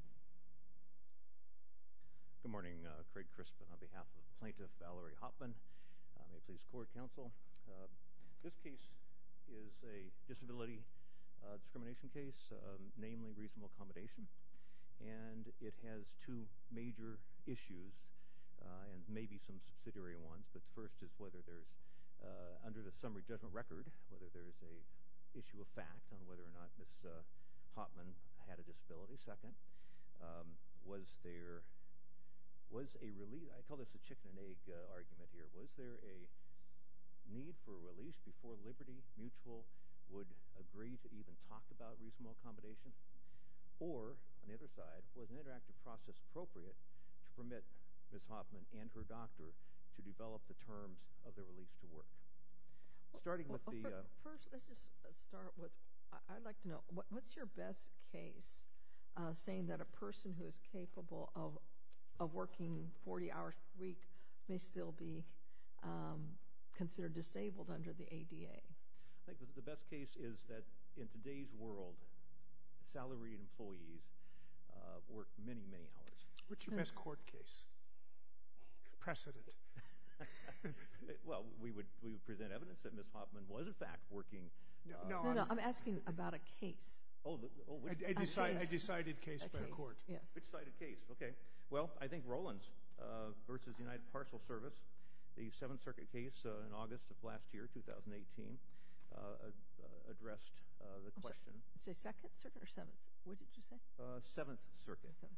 Good morning, Craig Crispin on behalf of Plaintiff Valerie Hoppman, Maple Leafs Court Counsel. This case is a disability discrimination case, namely reasonable accommodation, and it has two major issues, and maybe some subsidiary ones, but first is whether there's, under the summary judgment record, whether there's an issue of fact on whether or not Ms. Hoppman had a disability. Second, was there, was a release, I call this a chicken and egg argument here, was there a need for a release before Liberty Mutual would agree to even talk about reasonable accommodation? Or, on the other side, was an interactive process appropriate to permit Ms. Hoppman and her doctor to develop the terms of the release to work? Starting with the... First, let's just start with, I'd like to know, what's your best case saying that a person who is capable of working 40 hours a week may still be considered disabled under the ADA? I think the best case is that, in today's world, salaried employees work many, many hours. What's your best court case? Precedent. Well, we would present evidence that Ms. Hoppman was, in fact, working... No, no, I'm asking about a case. Oh, which case? A case. A decided case by the court. A case, yes. A decided case, okay. Well, I think Rollins v. United Parcel Service, the Seventh Circuit case in August of last year, 2018, addressed the question... Say Second Circuit or Seventh, what did you say? Seventh Circuit. Seventh Circuit.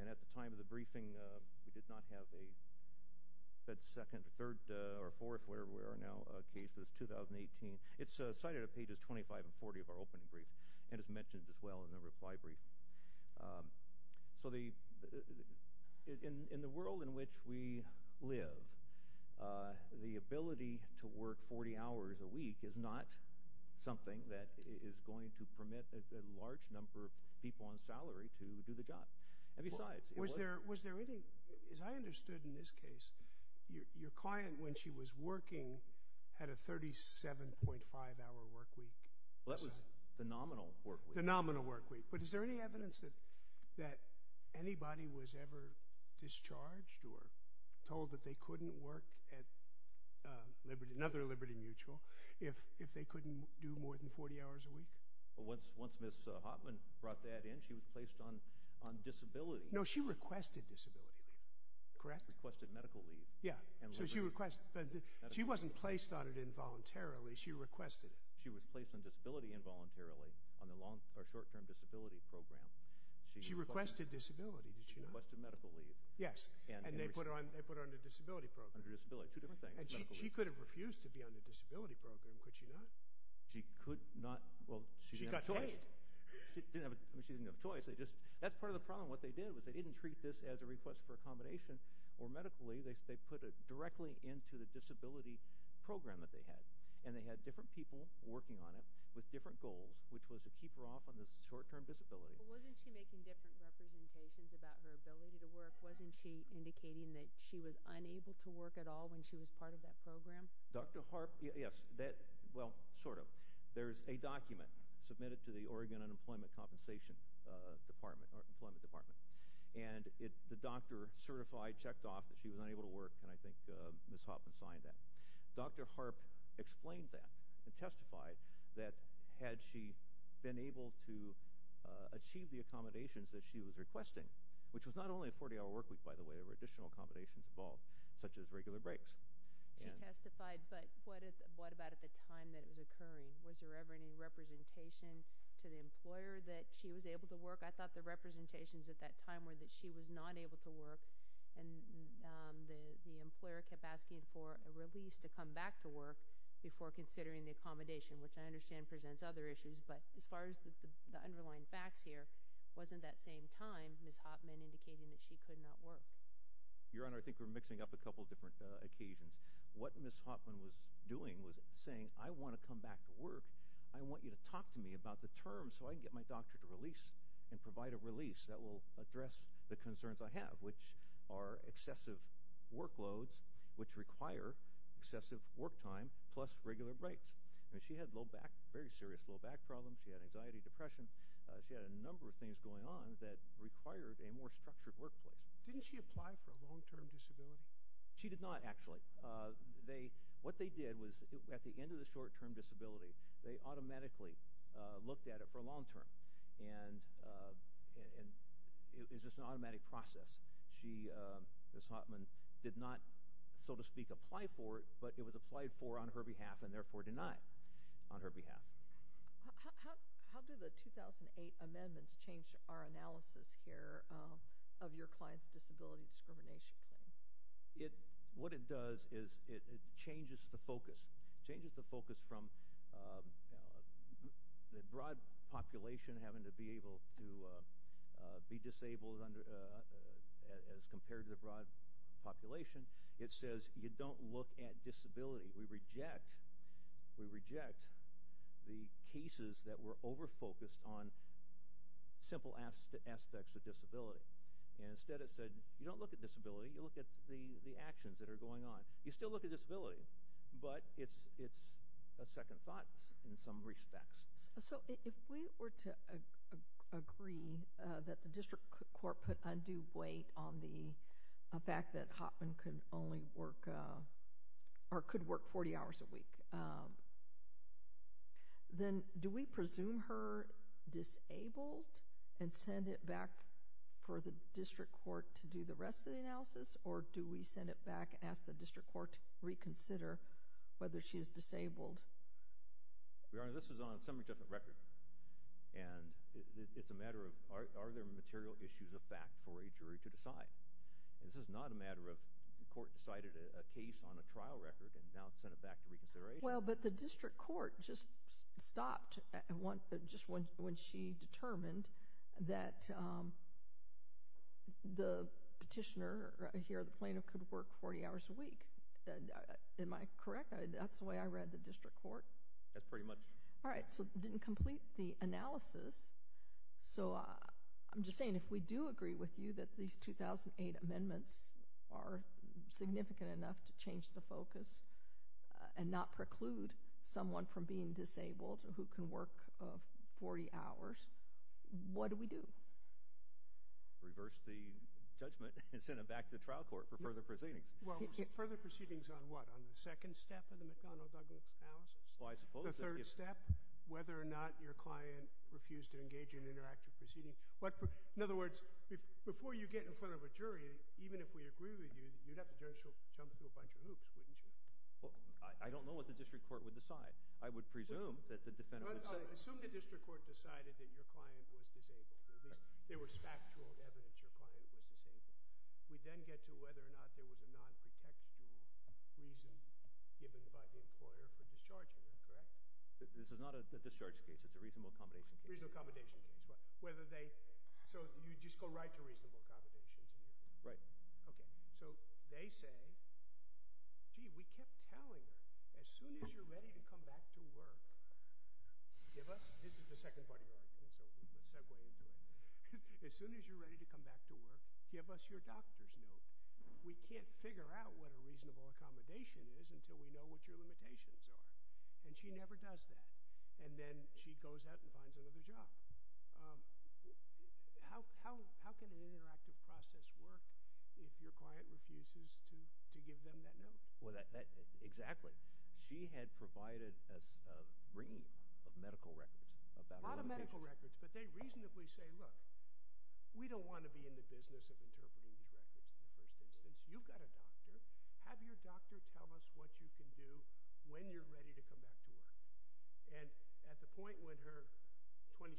And at the time of the briefing, we did not have a third or fourth, whatever we are now, case for this 2018. It's cited on pages 25 and 40 of our opening brief, and it's mentioned as well in the reply brief. So in the world in which we live, the ability to work 40 hours a week is not something that is going to permit a large number of people on salary to do the job. And besides... Was there any... As I understood in this case, your client, when she was working, had a 37.5 hour work week. Well, that was the nominal work week. The nominal work week. But is there any evidence that anybody was ever discharged or told that they couldn't work at another Liberty Mutual if they couldn't do more than 40 hours a week? Once Ms. Hoffman brought that in, she was placed on disability. No, she requested disability leave. Correct? Requested medical leave. Yeah. So she requested... She wasn't placed on it involuntarily. She requested it. She was placed on disability involuntarily on the short-term disability program. She requested disability, did she not? She requested medical leave. Yes. And they put her on the disability program. Under disability. Two different things. And she could have refused to be on the disability program, could she not? She could not. Well, she didn't have a choice. She got paid. She didn't have a choice. That's part of the problem. What they did was they didn't treat this as a request for accommodation or medically. They put it directly into the disability program that they had. And they had different people working on it with different goals, which was to keep her off on this short-term disability. Well, wasn't she making different representations about her ability to work? Wasn't she indicating that she was unable to work at all when she was part of that program? Dr. Harp... Yes, that... Well, sort of. There's a document submitted to the Oregon Unemployment Compensation Department, or Employment Department. And the doctor certified, checked off that she was unable to work, and I think Ms. Hoffman signed that. Dr. Harp explained that and testified that had she been able to achieve the accommodations that she was requesting, which was not only a 40-hour workweek, by the way. There were additional accommodations involved, such as regular breaks. She testified, but what about at the time that it was occurring? Was there ever any representation to the employer that she was able to work? I thought the representations at that time were that she was not able to work, and the employer kept asking for a release to come back to work before considering the accommodation, which I understand presents other issues, but as far as the underlying facts here, wasn't that same time Ms. Hoffman indicating that she could not work? Your Honor, I think we're mixing up a couple different occasions. What Ms. Hoffman was doing was saying, I want to come back to work, I want you to talk to me about the terms so I can get my doctor to release, and provide a release that will address the concerns I have, which are excessive workloads, which require excessive work time, plus regular breaks. She had low back, very serious low back problems. She had anxiety, depression. She had a number of things going on that required a more structured workplace. Didn't she apply for a long-term disability? She did not, actually. What they did was, at the end of the short-term disability, they automatically looked at it for long-term. It's just an automatic process. Ms. Hoffman did not, so to speak, apply for it, but it was applied for on her behalf, and therefore denied on her behalf. How do the 2008 amendments change our analysis here of your client's disability discrimination claim? What it does is, it changes the focus. It changes the focus from the broad population having to be disabled as compared to the broad population. It says, you don't look at disability. We reject the cases that were over-focused on simple aspects of disability. Instead, it said, you don't look at disability, you look at the actions that are going on. You still look at disability, but it's a second thought in some respects. If we were to agree that the district court put undue weight on the fact that Hoffman could work 40 hours a week, then do we presume her disabled and send it back for the district court to do the rest of the analysis, or do we send it back and ask the district court to reconsider whether she is disabled? Your Honor, this is on some different record. It's a matter of, are there material issues of fact for a jury to decide? This is not a matter of the court decided a case on a trial record and now sent it back to reconsideration. Well, but the district court just stopped just when she determined that the petitioner here, the plaintiff, could work 40 hours a week. Am I correct? That's the way I read the district court? That's pretty much. All right, so it didn't complete the analysis. So I'm just saying, if we do agree with you that these 2008 amendments are significant enough to change the focus and not preclude someone from being disabled who can work 40 hours, what do we do? Reverse the judgment and send it back to the trial court for further proceedings. Well, further proceedings on what? On the second step of the McConnell-Douglas analysis? The third step? Whether or not your client refused to engage in interactive proceedings? In other words, before you get in front of a jury, even if we agree with you, you'd have to jump through a bunch of hoops, wouldn't you? Well, I don't know what the district court would decide. I would presume that the defendant would say... Assume the district court decided that your client was disabled. There was factual evidence your client was disabled. We then get to whether or not there was a non-pretextual reason given by the employer for discharging them, correct? This is not a discharge case. It's a reasonable accommodation case. Reasonable accommodation case, right. So you just go right to reasonable accommodations? Right. Okay, so they say, gee, we kept telling her, as soon as you're ready to come back to work, give us—this is the second part of your argument, so let's segue into it. As soon as you're ready to come back to work, give us your doctor's note. We can't figure out what a reasonable accommodation is until we know what your limitations are. And she never does that. And then she goes out and finds another job. How can an interactive process work if your client refuses to give them that note? Exactly. She had provided a ream of medical records about— A lot of medical records, but they reasonably say, look, we don't want to be in the business of interpreting these records in the first instance. You've got a doctor. Have your doctor tell us what you can do when you're ready to come back to work. And at the point when her 26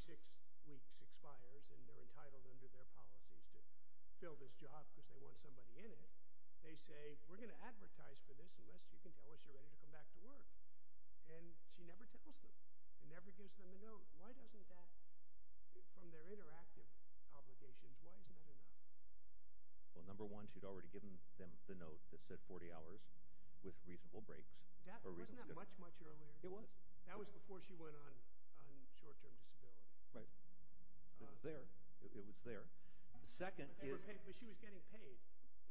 weeks expires and they're entitled under their policies to fill this job because they want somebody in it, they say, we're going to advertise for this unless you can tell us you're ready to come back to work. And she never tells them. She never gives them a note. Why doesn't that—from their interactive obligations, why isn't that enough? Well, number one, she'd already given them the note that said 40 hours with reasonable breaks. Wasn't that much, much earlier? It was. That was before she went on short-term disability. Right. There. It was there. The second is— But she was getting paid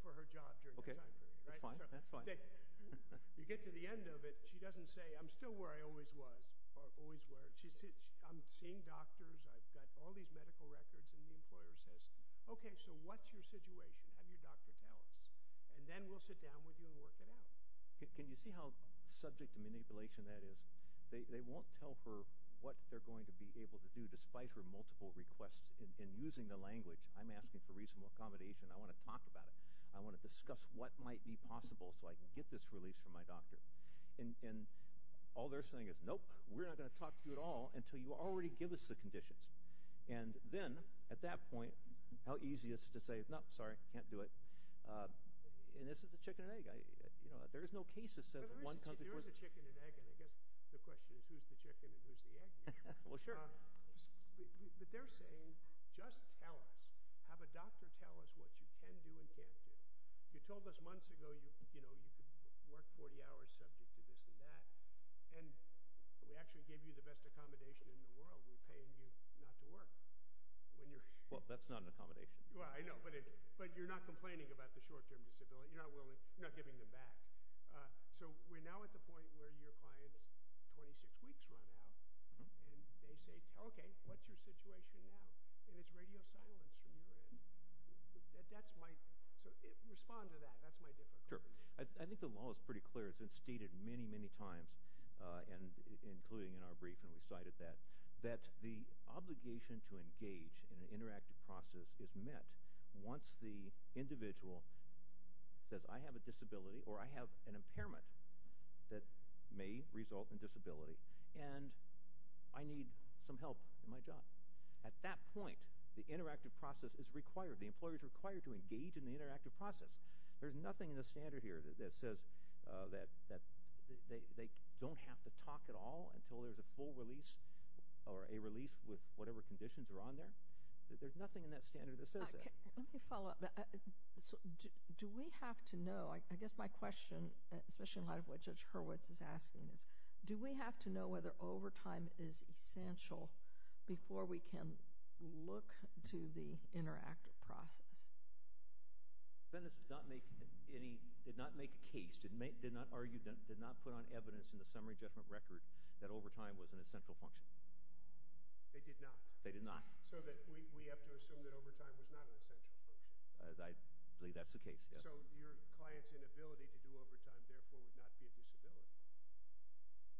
for her job during that time period, right? That's fine. That's fine. You get to the end of it, she doesn't say, I'm still where I always was or always were. I'm seeing doctors. I've got all these medical records. And the employer says, okay, so what's your situation? Have your doctor tell us. And then we'll sit down with you and work it out. Can you see how subject to manipulation that is? They won't tell her what they're going to be able to do despite her multiple requests in using the language, I'm asking for reasonable accommodation, I want to talk about it, I want to discuss what might be possible so I can get this released from my doctor. And all they're saying is, nope, we're not going to talk to you at all until you already give us the conditions. And then, at that point, how easy is it to say, no, sorry, can't do it. And this is a chicken and egg. There is no case that says one comes before— There is a chicken and egg, and I guess the question is who's the chicken and who's the egg here. Well, sure. But they're saying, just tell us. Have a doctor tell us what you can do and can't do. You told us months ago you could work 40 hours subject to this and that. And we actually gave you the best accommodation in the world. We're paying you not to work. Well, that's not an accommodation. I know, but you're not complaining about the short-term disability. You're not giving them back. So we're now at the point where your client's 26 weeks run out. And they say, okay, what's your situation now? And it's radio silence from your end. That's my—respond to that. That's my difficulty. Sure. I think the law is pretty clear. It's been stated many, many times, including in our brief, and we cited that, that the obligation to engage in an interactive process is met once the individual says, I have a disability or I have an impairment that may result in disability. And I need some help in my job. At that point, the interactive process is required. The employer is required to engage in the interactive process. There's nothing in the standard here that says that they don't have to talk at all until there's a full release or a release with whatever conditions are on there. There's nothing in that standard that says that. Let me follow up. Do we have to know—I guess my question, especially in light of what Judge Hurwitz is asking, is do we have to know whether overtime is essential before we can look to the interactive process? The defendants did not make a case, did not argue, did not put on evidence in the summary judgment record that overtime was an essential function. They did not? They did not. So we have to assume that overtime was not an essential function? I believe that's the case, yes. So your client's inability to do overtime, therefore, would not be a disability?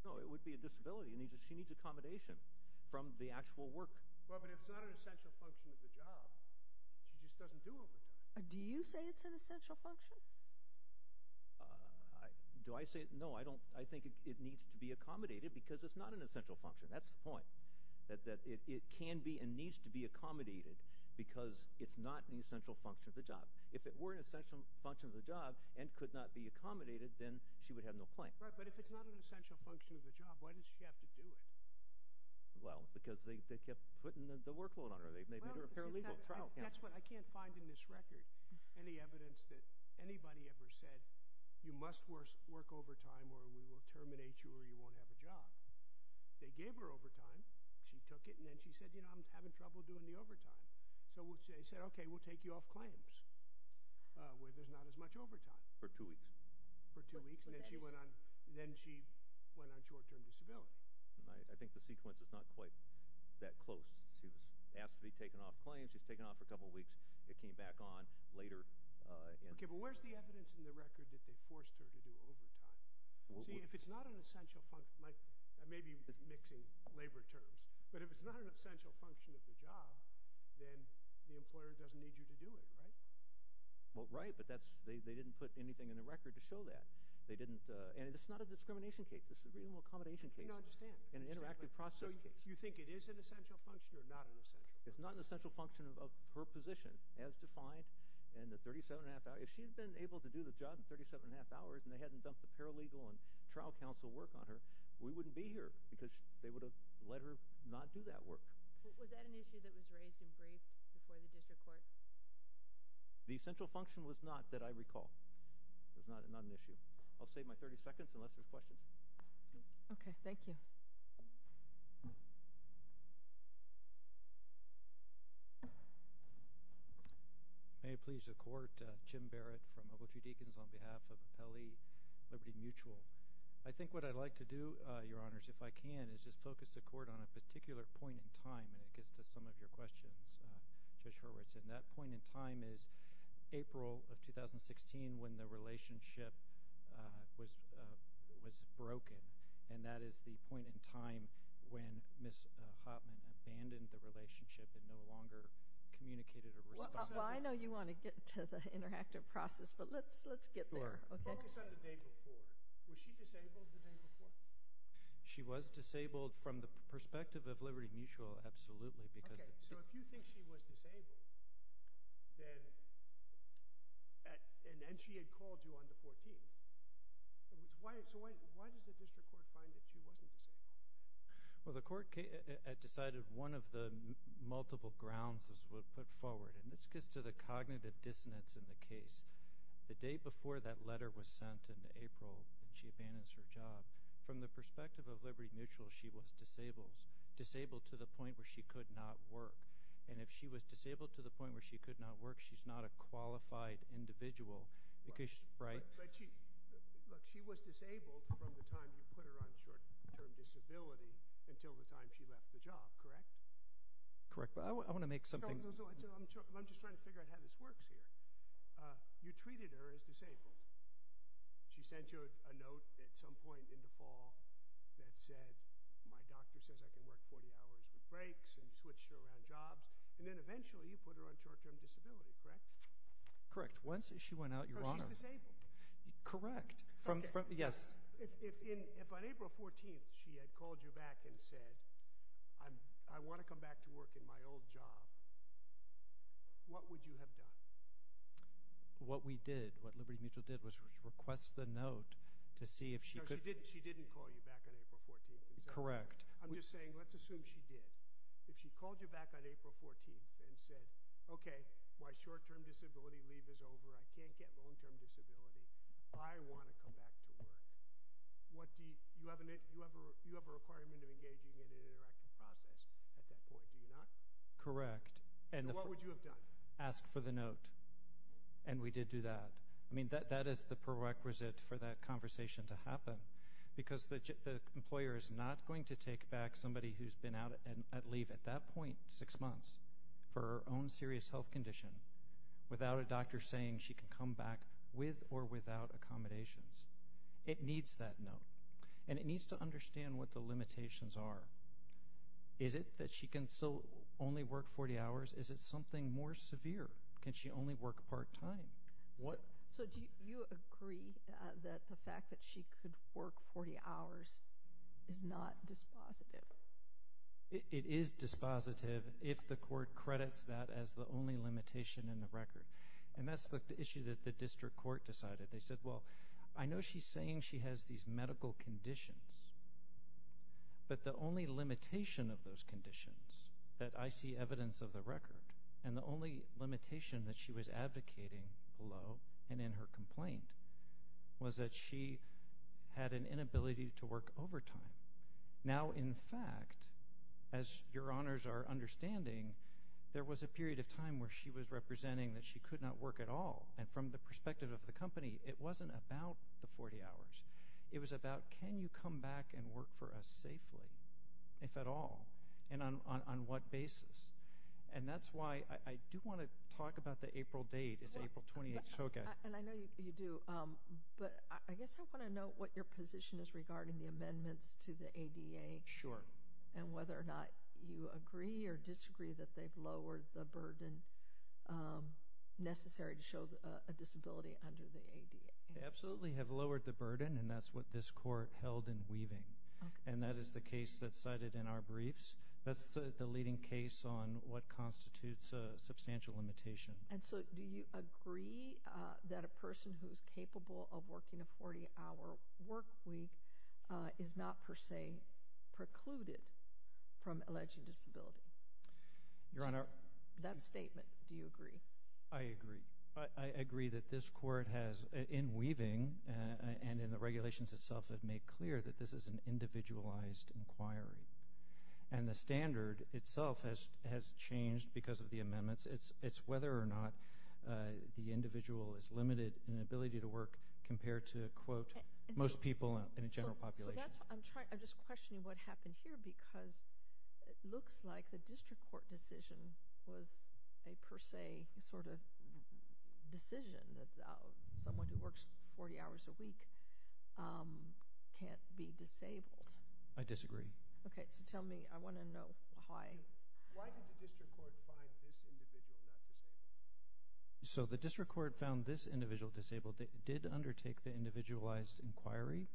No, it would be a disability. She needs accommodation from the actual work. But if it's not an essential function of the job, she just doesn't do overtime. Do you say it's an essential function? Do I say it? No, I think it needs to be accommodated because it's not an essential function. That's the point, that it can be and needs to be accommodated because it's not an essential function of the job. If it were an essential function of the job and could not be accommodated, then she would have no claim. But if it's not an essential function of the job, why does she have to do it? Well, because they kept putting the workload on her. They made her a paralegal. That's what I can't find in this record, any evidence that anybody ever said, you must work overtime or we will terminate you or you won't have a job. They gave her overtime. She took it and then she said, you know, I'm having trouble doing the overtime. So they said, okay, we'll take you off claims where there's not as much overtime. For two weeks? For two weeks. And then she went on short-term disability. I think the sequence is not quite that close. She was asked to be taken off claims. She was taken off for a couple of weeks. It came back on later. Okay, but where's the evidence in the record that they forced her to do overtime? See, if it's not an essential function, I may be mixing labor terms, but if it's not an essential function of the job, then the employer doesn't need you to do it, right? Well, right, but they didn't put anything in the record to show that. And it's not a discrimination case. This is a reasonable accommodation case. I don't understand. An interactive process case. So you think it is an essential function or not an essential function? It's not an essential function of her position as defined in the 37 and a half hours. If she had been able to do the job in 37 and a half hours and they hadn't dumped the paralegal and trial counsel work on her, we wouldn't be here because they would have let her not do that work. Was that an issue that was raised in brief before the district court? The essential function was not that I recall. It was not an issue. I'll save my 30 seconds unless there's questions. Okay. Thank you. May it please the Court. Jim Barrett from Ogletree Deacons on behalf of Appellee Liberty Mutual. I think what I'd like to do, Your Honors, if I can, is just focus the Court on a particular point in time and it gets to some of your questions. Judge Hurwitz, and that point in time is April of 2016 when the relationship was broken. And that is the point in time when Ms. Hopman abandoned the relationship and no longer communicated or responded. Well, I know you want to get to the interactive process, but let's get there. Sure. Focus on the day before. Was she disabled the day before? She was disabled from the perspective of Liberty Mutual, absolutely. Okay. So if you think she was disabled, and she had called you on the 14th, so why does the district court find that she wasn't disabled? Well, the court had decided one of the multiple grounds was put forward. And this gets to the cognitive dissonance in the case. The day before that letter was sent in April, when she abandoned her job, from the perspective of Liberty Mutual, she was disabled. She was disabled to the point where she could not work. And if she was disabled to the point where she could not work, she's not a qualified individual. Look, she was disabled from the time you put her on short-term disability until the time she left the job, correct? Correct. But I want to make something... I'm just trying to figure out how this works here. You treated her as disabled. She sent you a note at some point in the fall that said, my doctor says I can work 40 hours with breaks, and you switched her around jobs, and then eventually you put her on short-term disability, correct? Correct. Once she went out, Your Honor... So she's disabled. Correct. Yes. If on April 14th she had called you back and said, I want to come back to work in my old job, what would you have done? What we did, what Liberty Mutual did was request the note to see if she could... Correct. I'm just saying, let's assume she did. If she called you back on April 14th and said, okay, my short-term disability leave is over, I can't get long-term disability, I want to come back to work, you have a requirement of engaging in an interactive process at that point, do you not? Correct. What would you have done? Ask for the note. And we did do that. I mean, that is the prerequisite for that conversation to happen. Because the employer is not going to take back somebody who's been out on leave at that point, six months, for her own serious health condition, without a doctor saying she can come back with or without accommodations. It needs that note. And it needs to understand what the limitations are. Is it that she can still only work 40 hours? Is it something more severe? Can she only work part-time? So do you agree that the fact that she could work 40 hours is not dispositive? It is dispositive if the court credits that as the only limitation in the record. And that's the issue that the district court decided. They said, well, I know she's saying she has these medical conditions, but the only limitation of those conditions that I see evidence of the record, and the only limitation that she was advocating below and in her complaint, was that she had an inability to work overtime. Now, in fact, as your honors are understanding, there was a period of time where she was representing that she could not work at all. And from the perspective of the company, it wasn't about the 40 hours. It was about, can you come back and work for us safely, if at all? And on what basis? And that's why I do want to talk about the April date. It's April 28th. And I know you do. But I guess I want to know what your position is regarding the amendments to the ADA. Sure. And whether or not you agree or disagree that they've lowered the burden necessary to show a disability under the ADA. They absolutely have lowered the burden, and that's what this court held in weaving. And that is the case that's cited in our briefs. That's the leading case on what constitutes a substantial limitation. And so, do you agree that a person who's capable of working a 40-hour work week is not per se precluded from alleging disability? Your honor... That statement, do you agree? I agree. I agree that this court has, in weaving, and in the regulations itself have made clear that this is an individualized inquiry. And the standard itself has changed because of the amendments. It's whether or not the individual is limited in ability to work compared to, quote, most people in a general population. I'm just questioning what happened here, because it looks like the district court decision was a per se sort of decision that someone who works 40 hours a week can't be disabled. I disagree. Okay, so tell me. I want to know why. Why did the district court find this individual not disabled? So, the district court found this individual disabled. It did undertake the individualized inquiry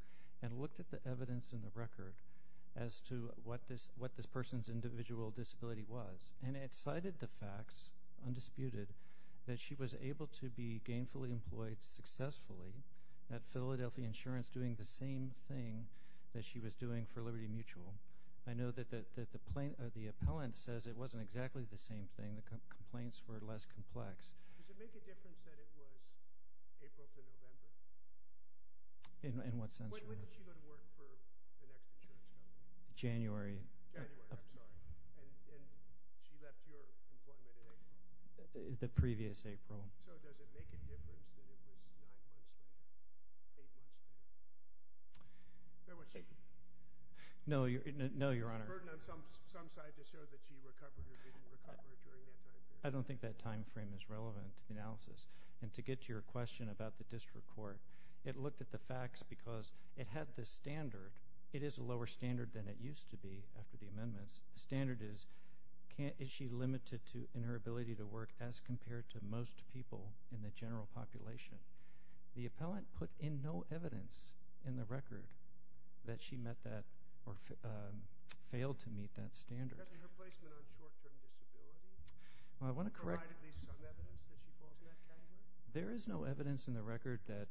and looked at the evidence in the record as to what this person's individual disability was. And it cited the facts, undisputed, that she was able to be gainfully employed successfully at Philadelphia Insurance doing the same thing that she was doing for Liberty Mutual. I know that the appellant says it wasn't exactly the same thing. The complaints were less complex. Does it make a difference that it was April to November? In what sense? When did she go to work for the next insurance company? January. January, I'm sorry. And she left your employment in April? The previous April. So, does it make a difference that it was nine months later? Eight months later? No, Your Honor. Was there a burden on some side to show that she recovered or didn't recover during that time period? I don't think that time frame is relevant to the analysis. And to get to your question about the district court, it looked at the facts because it had the standard. It is a lower standard than it used to be after the amendments. The standard is, is she limited in her ability to work as compared to most people in the general population. The appellant put in no evidence in the record that she met that or failed to meet that standard. Doesn't her placement on short-term disability provide at least some evidence that she falls in that category? There is no evidence in the record that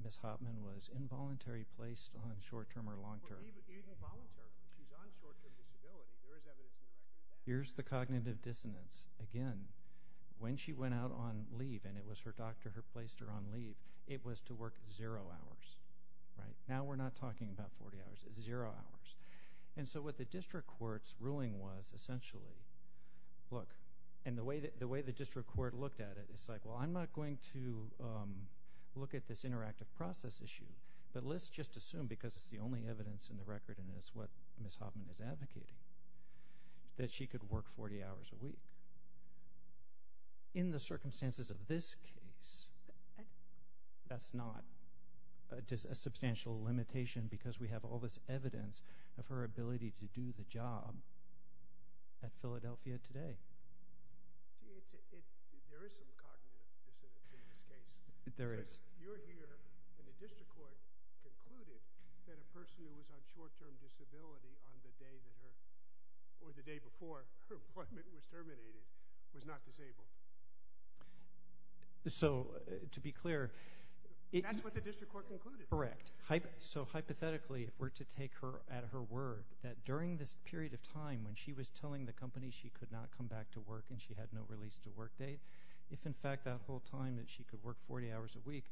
Ms. Hoffman was involuntary placed on short-term or long-term. Even voluntarily. She's on short-term disability. There is evidence in the record. Here's the cognitive dissonance. Again, when she went out on leave, and it was her doctor who placed her on leave, it was to work zero hours. Now we're not talking about 40 hours. It's zero hours. And so what the district court's ruling was essentially, look, and the way the district court looked at it, it's like, well, I'm not going to look at this interactive process issue. But let's just assume, because it's the only evidence in the record and it's what Ms. Hoffman is advocating, that she could work 40 hours a week. In the circumstances of this case, that's not a substantial limitation because we have all this evidence of her ability to do the job at Philadelphia today. There is some cognitive dissonance in this case. There is. You're here, and the district court concluded that a person who was on short-term disability on the day that her, or the day before her appointment was terminated, was not disabled. So, to be clear... That's what the district court concluded. Correct. So hypothetically, if we're to take her at her word, that during this period of time when she was telling the company she could not come back to work and she had no release-to-work date, if in fact that whole time that she could work 40 hours a week,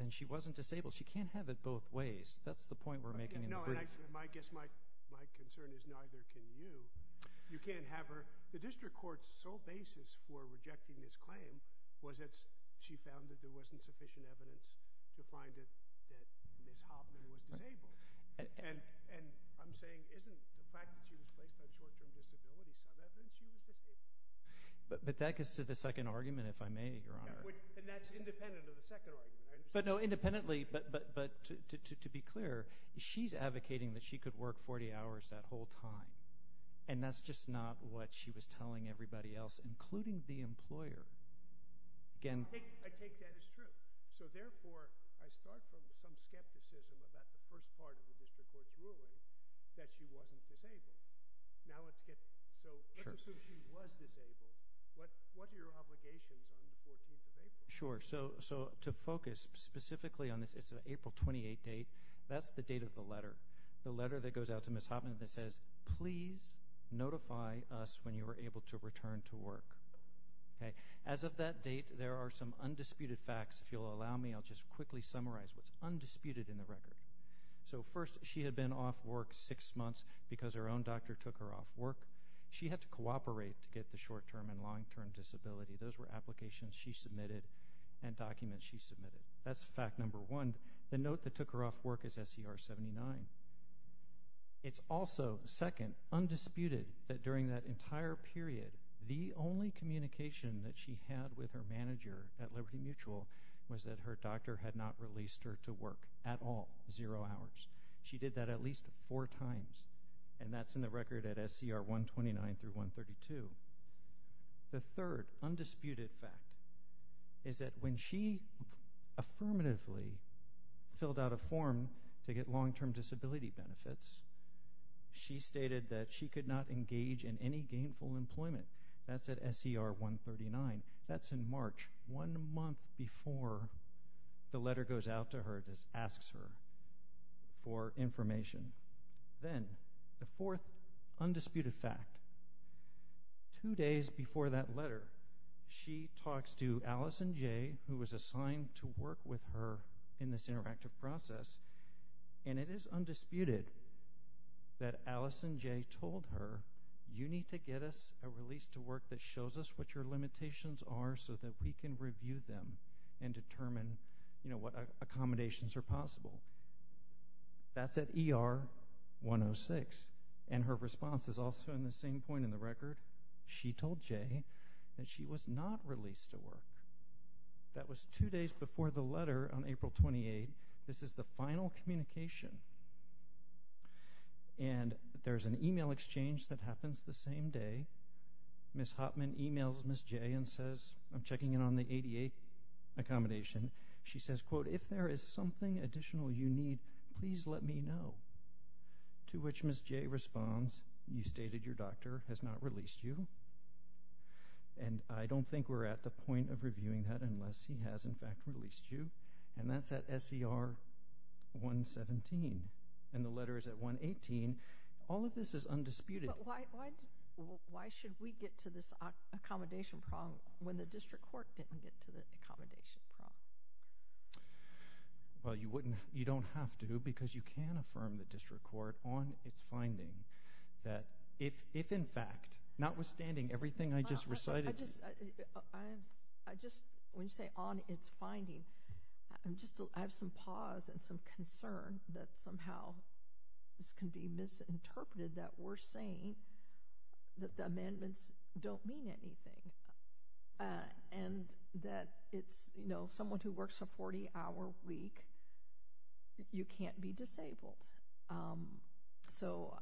then she wasn't disabled. She can't have it both ways. That's the point we're making in the brief. I guess my concern is neither can you. You can't have her... The district court's sole basis for rejecting this claim was that she found that there wasn't sufficient evidence to find that Ms. Hoffman was disabled. And I'm saying, isn't the fact that she was placed on short-term disability some evidence she was disabled? But that gets to the second argument, if I may, Your Honour. And that's independent of the second argument. But no, independently, but to be clear, she's advocating that she could work 40 hours that whole time. And that's just not what she was telling everybody else, including the employer. Again... I take that as true. So therefore, I start from some skepticism about the first part of the district court's ruling that she wasn't disabled. Now let's get... So let's assume she was disabled. What are your obligations on the 14th of April? Sure. So to focus specifically on this April 28 date, that's the date of the letter. The letter that goes out to Ms. Hoffman that says, please notify us when you are able to return to work. As of that date, there are some undisputed facts. If you'll allow me, I'll just quickly summarize what's undisputed in the record. So first, she had been off work six months because her own doctor took her off work. She had to cooperate to get the short-term and long-term disability. Those were applications she submitted and documents she submitted. That's fact number one. The note that took her off work is SCR 79. It's also, second, undisputed that during that entire period, the only communication that she had with her manager at Liberty Mutual was that her doctor had not released her to work at all, zero hours. She did that at least four times, and that's in the record at SCR 129 through 132. The third undisputed fact is that when she affirmatively filled out a form to get long-term disability benefits, she stated that she could not engage in any gainful employment. That's at SCR 139. That's in March, one month before the letter goes out to her, just asks her for information. Then, the fourth undisputed fact, two days before that letter, she talks to Allison Jay, who was assigned to work with her in this interactive process, and it is undisputed that Allison Jay told her, you need to get us a release to work that shows us what your limitations are so that we can review them and determine what accommodations are possible. That's at ER 106. And her response is also in the same point in the record. She told Jay that she was not released to work. That was two days before the letter on April 28. This is the final communication. And there's an email exchange that happens the same day. Ms. Hopman emails Ms. Jay and says, I'm checking in on the ADA accommodation. She says, quote, if there is something additional you need, please let me know. To which Ms. Jay responds, you stated your doctor has not released you. And I don't think we're at the point of reviewing that unless he has, in fact, released you. And that's at SER 117. And the letter is at 118. All of this is undisputed. But why should we get to this accommodation problem when the district court didn't get to the accommodation problem? Well, you wouldn't, you don't have to because you can affirm the district court on its finding that if in fact, notwithstanding everything I just recited I just, when you say on its finding, I'm just, I have some pause and some concern that somehow this can be misinterpreted that we're saying that the amendments don't mean anything. And that it's, you know, someone who works a 40-hour week, you can't be disabled. So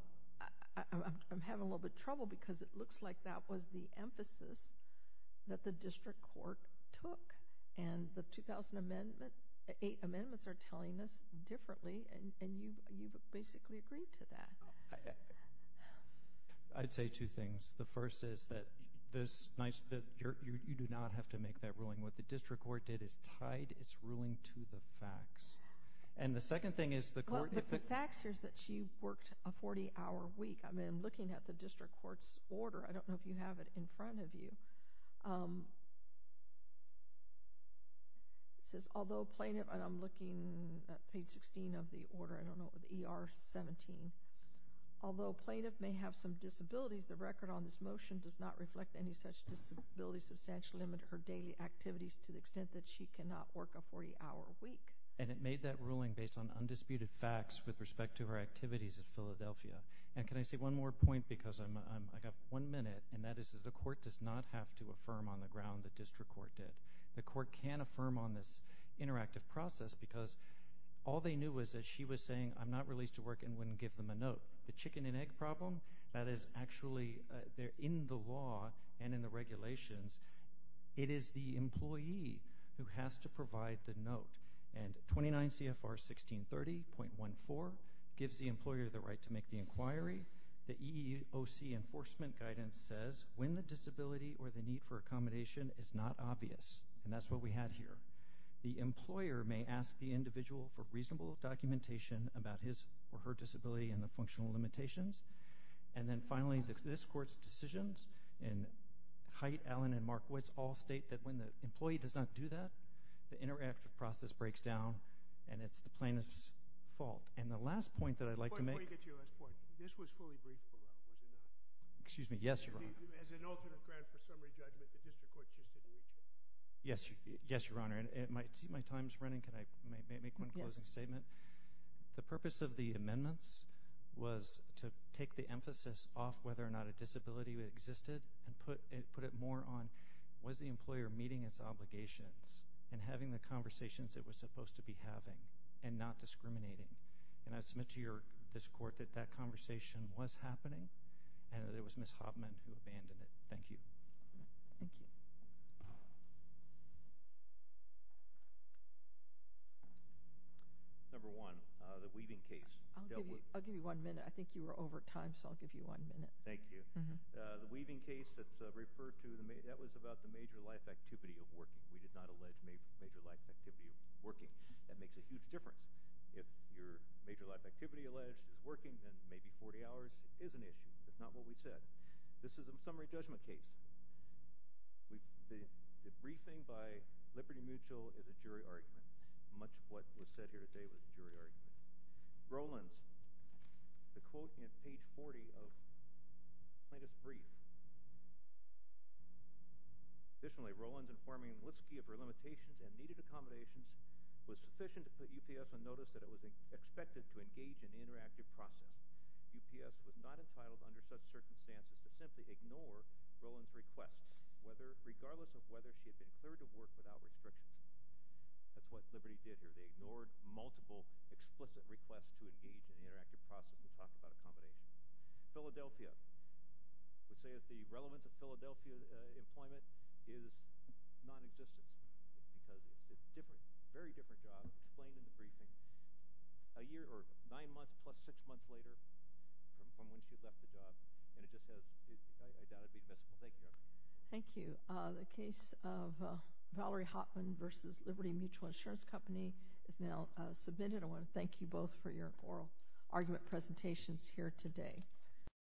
I'm having a little bit of trouble because it looks like that was the emphasis that the district court took. And the 2000 amendment, the eight amendments are telling us differently and you basically agreed to that. I'd say two things. The first is that you do not have to make that ruling. What the district court did is tied its ruling to the facts. And the second thing is the court... Well, the facts here is that she worked a 40-hour week. I mean, looking at the district court's order, I don't know if you have it in front of you, it says, although plaintiff, and I'm looking at page 16 of the order, I don't know, ER 17. Although plaintiff may have some disabilities, the record on this motion does not reflect any such disability substantial limit or daily activities to the extent that she cannot work a 40-hour week. And it made that ruling based on undisputed facts with respect to her activities at Philadelphia. And can I say one more point? Because I got one minute, and that is that the court does not have to affirm on the ground the district court did. The court can affirm on this interactive process because all they knew was that she was saying, I'm not released to work, and wouldn't give them a note. The chicken and egg problem, that is actually, in the law and in the regulations, it is the employee who has to provide the note. And 29 CFR 1630.14 gives the employer the right to make the inquiry. The EEOC enforcement guidance says, when the disability or the need for accommodation is not obvious, and that's what we had here, the employer may ask the individual for reasonable documentation about his or her disability and the functional limitations. And then finally, this Court's decisions, and Hyte, Allen, and Markowitz all state that when the employee does not do that, the interactive process breaks down, and it's the plaintiff's fault. And the last point that I'd like to make... Before you get to your last point, this was fully briefed about, was it not? Excuse me, yes, Your Honor. As an alternate ground for summary judgment, the district court just didn't reach it. Yes, Your Honor, and my time's running. Can I make one closing statement? The purpose of the amendments was to take the emphasis off whether or not a disability existed and put it more on, was the employer meeting its obligations and having the conversations it was supposed to be having and not discriminating? And I submit to this Court that that conversation was happening and that it was Ms. Hoffman who abandoned it. Thank you. Thank you. Number one, the weaving case. I'll give you one minute. I think you were over time, so I'll give you one minute. Thank you. The weaving case that's referred to, that was about the major life activity of working. We did not allege major life activity of working. That makes a huge difference. If your major life activity alleged is working, then maybe 40 hours is an issue. That's not what we said. This is a summary judgment case. The briefing by Liberty Mutual is a jury argument. Much of what was said here today was a jury argument. Rolands, the quote in page 40 of plaintiff's brief. Additionally, Rolands informing Liske of her limitations and needed accommodations was sufficient to put UPS on notice that it was expected to engage in an interactive process. UPS was not entitled under such circumstances to simply ignore Rolands' requests, regardless of whether she had been cleared to work without restrictions. That's what Liberty did here. They ignored multiple explicit requests to engage in an interactive process to talk about accommodation. Philadelphia would say that the relevance of Philadelphia employment is nonexistence because it's a very different job explained in the briefing. Nine months plus six months later from when she left the job. Thank you. Thank you. The case of Valerie Hoffman versus Liberty Mutual Insurance Company is now submitted. I want to thank you both for your oral argument presentations here today.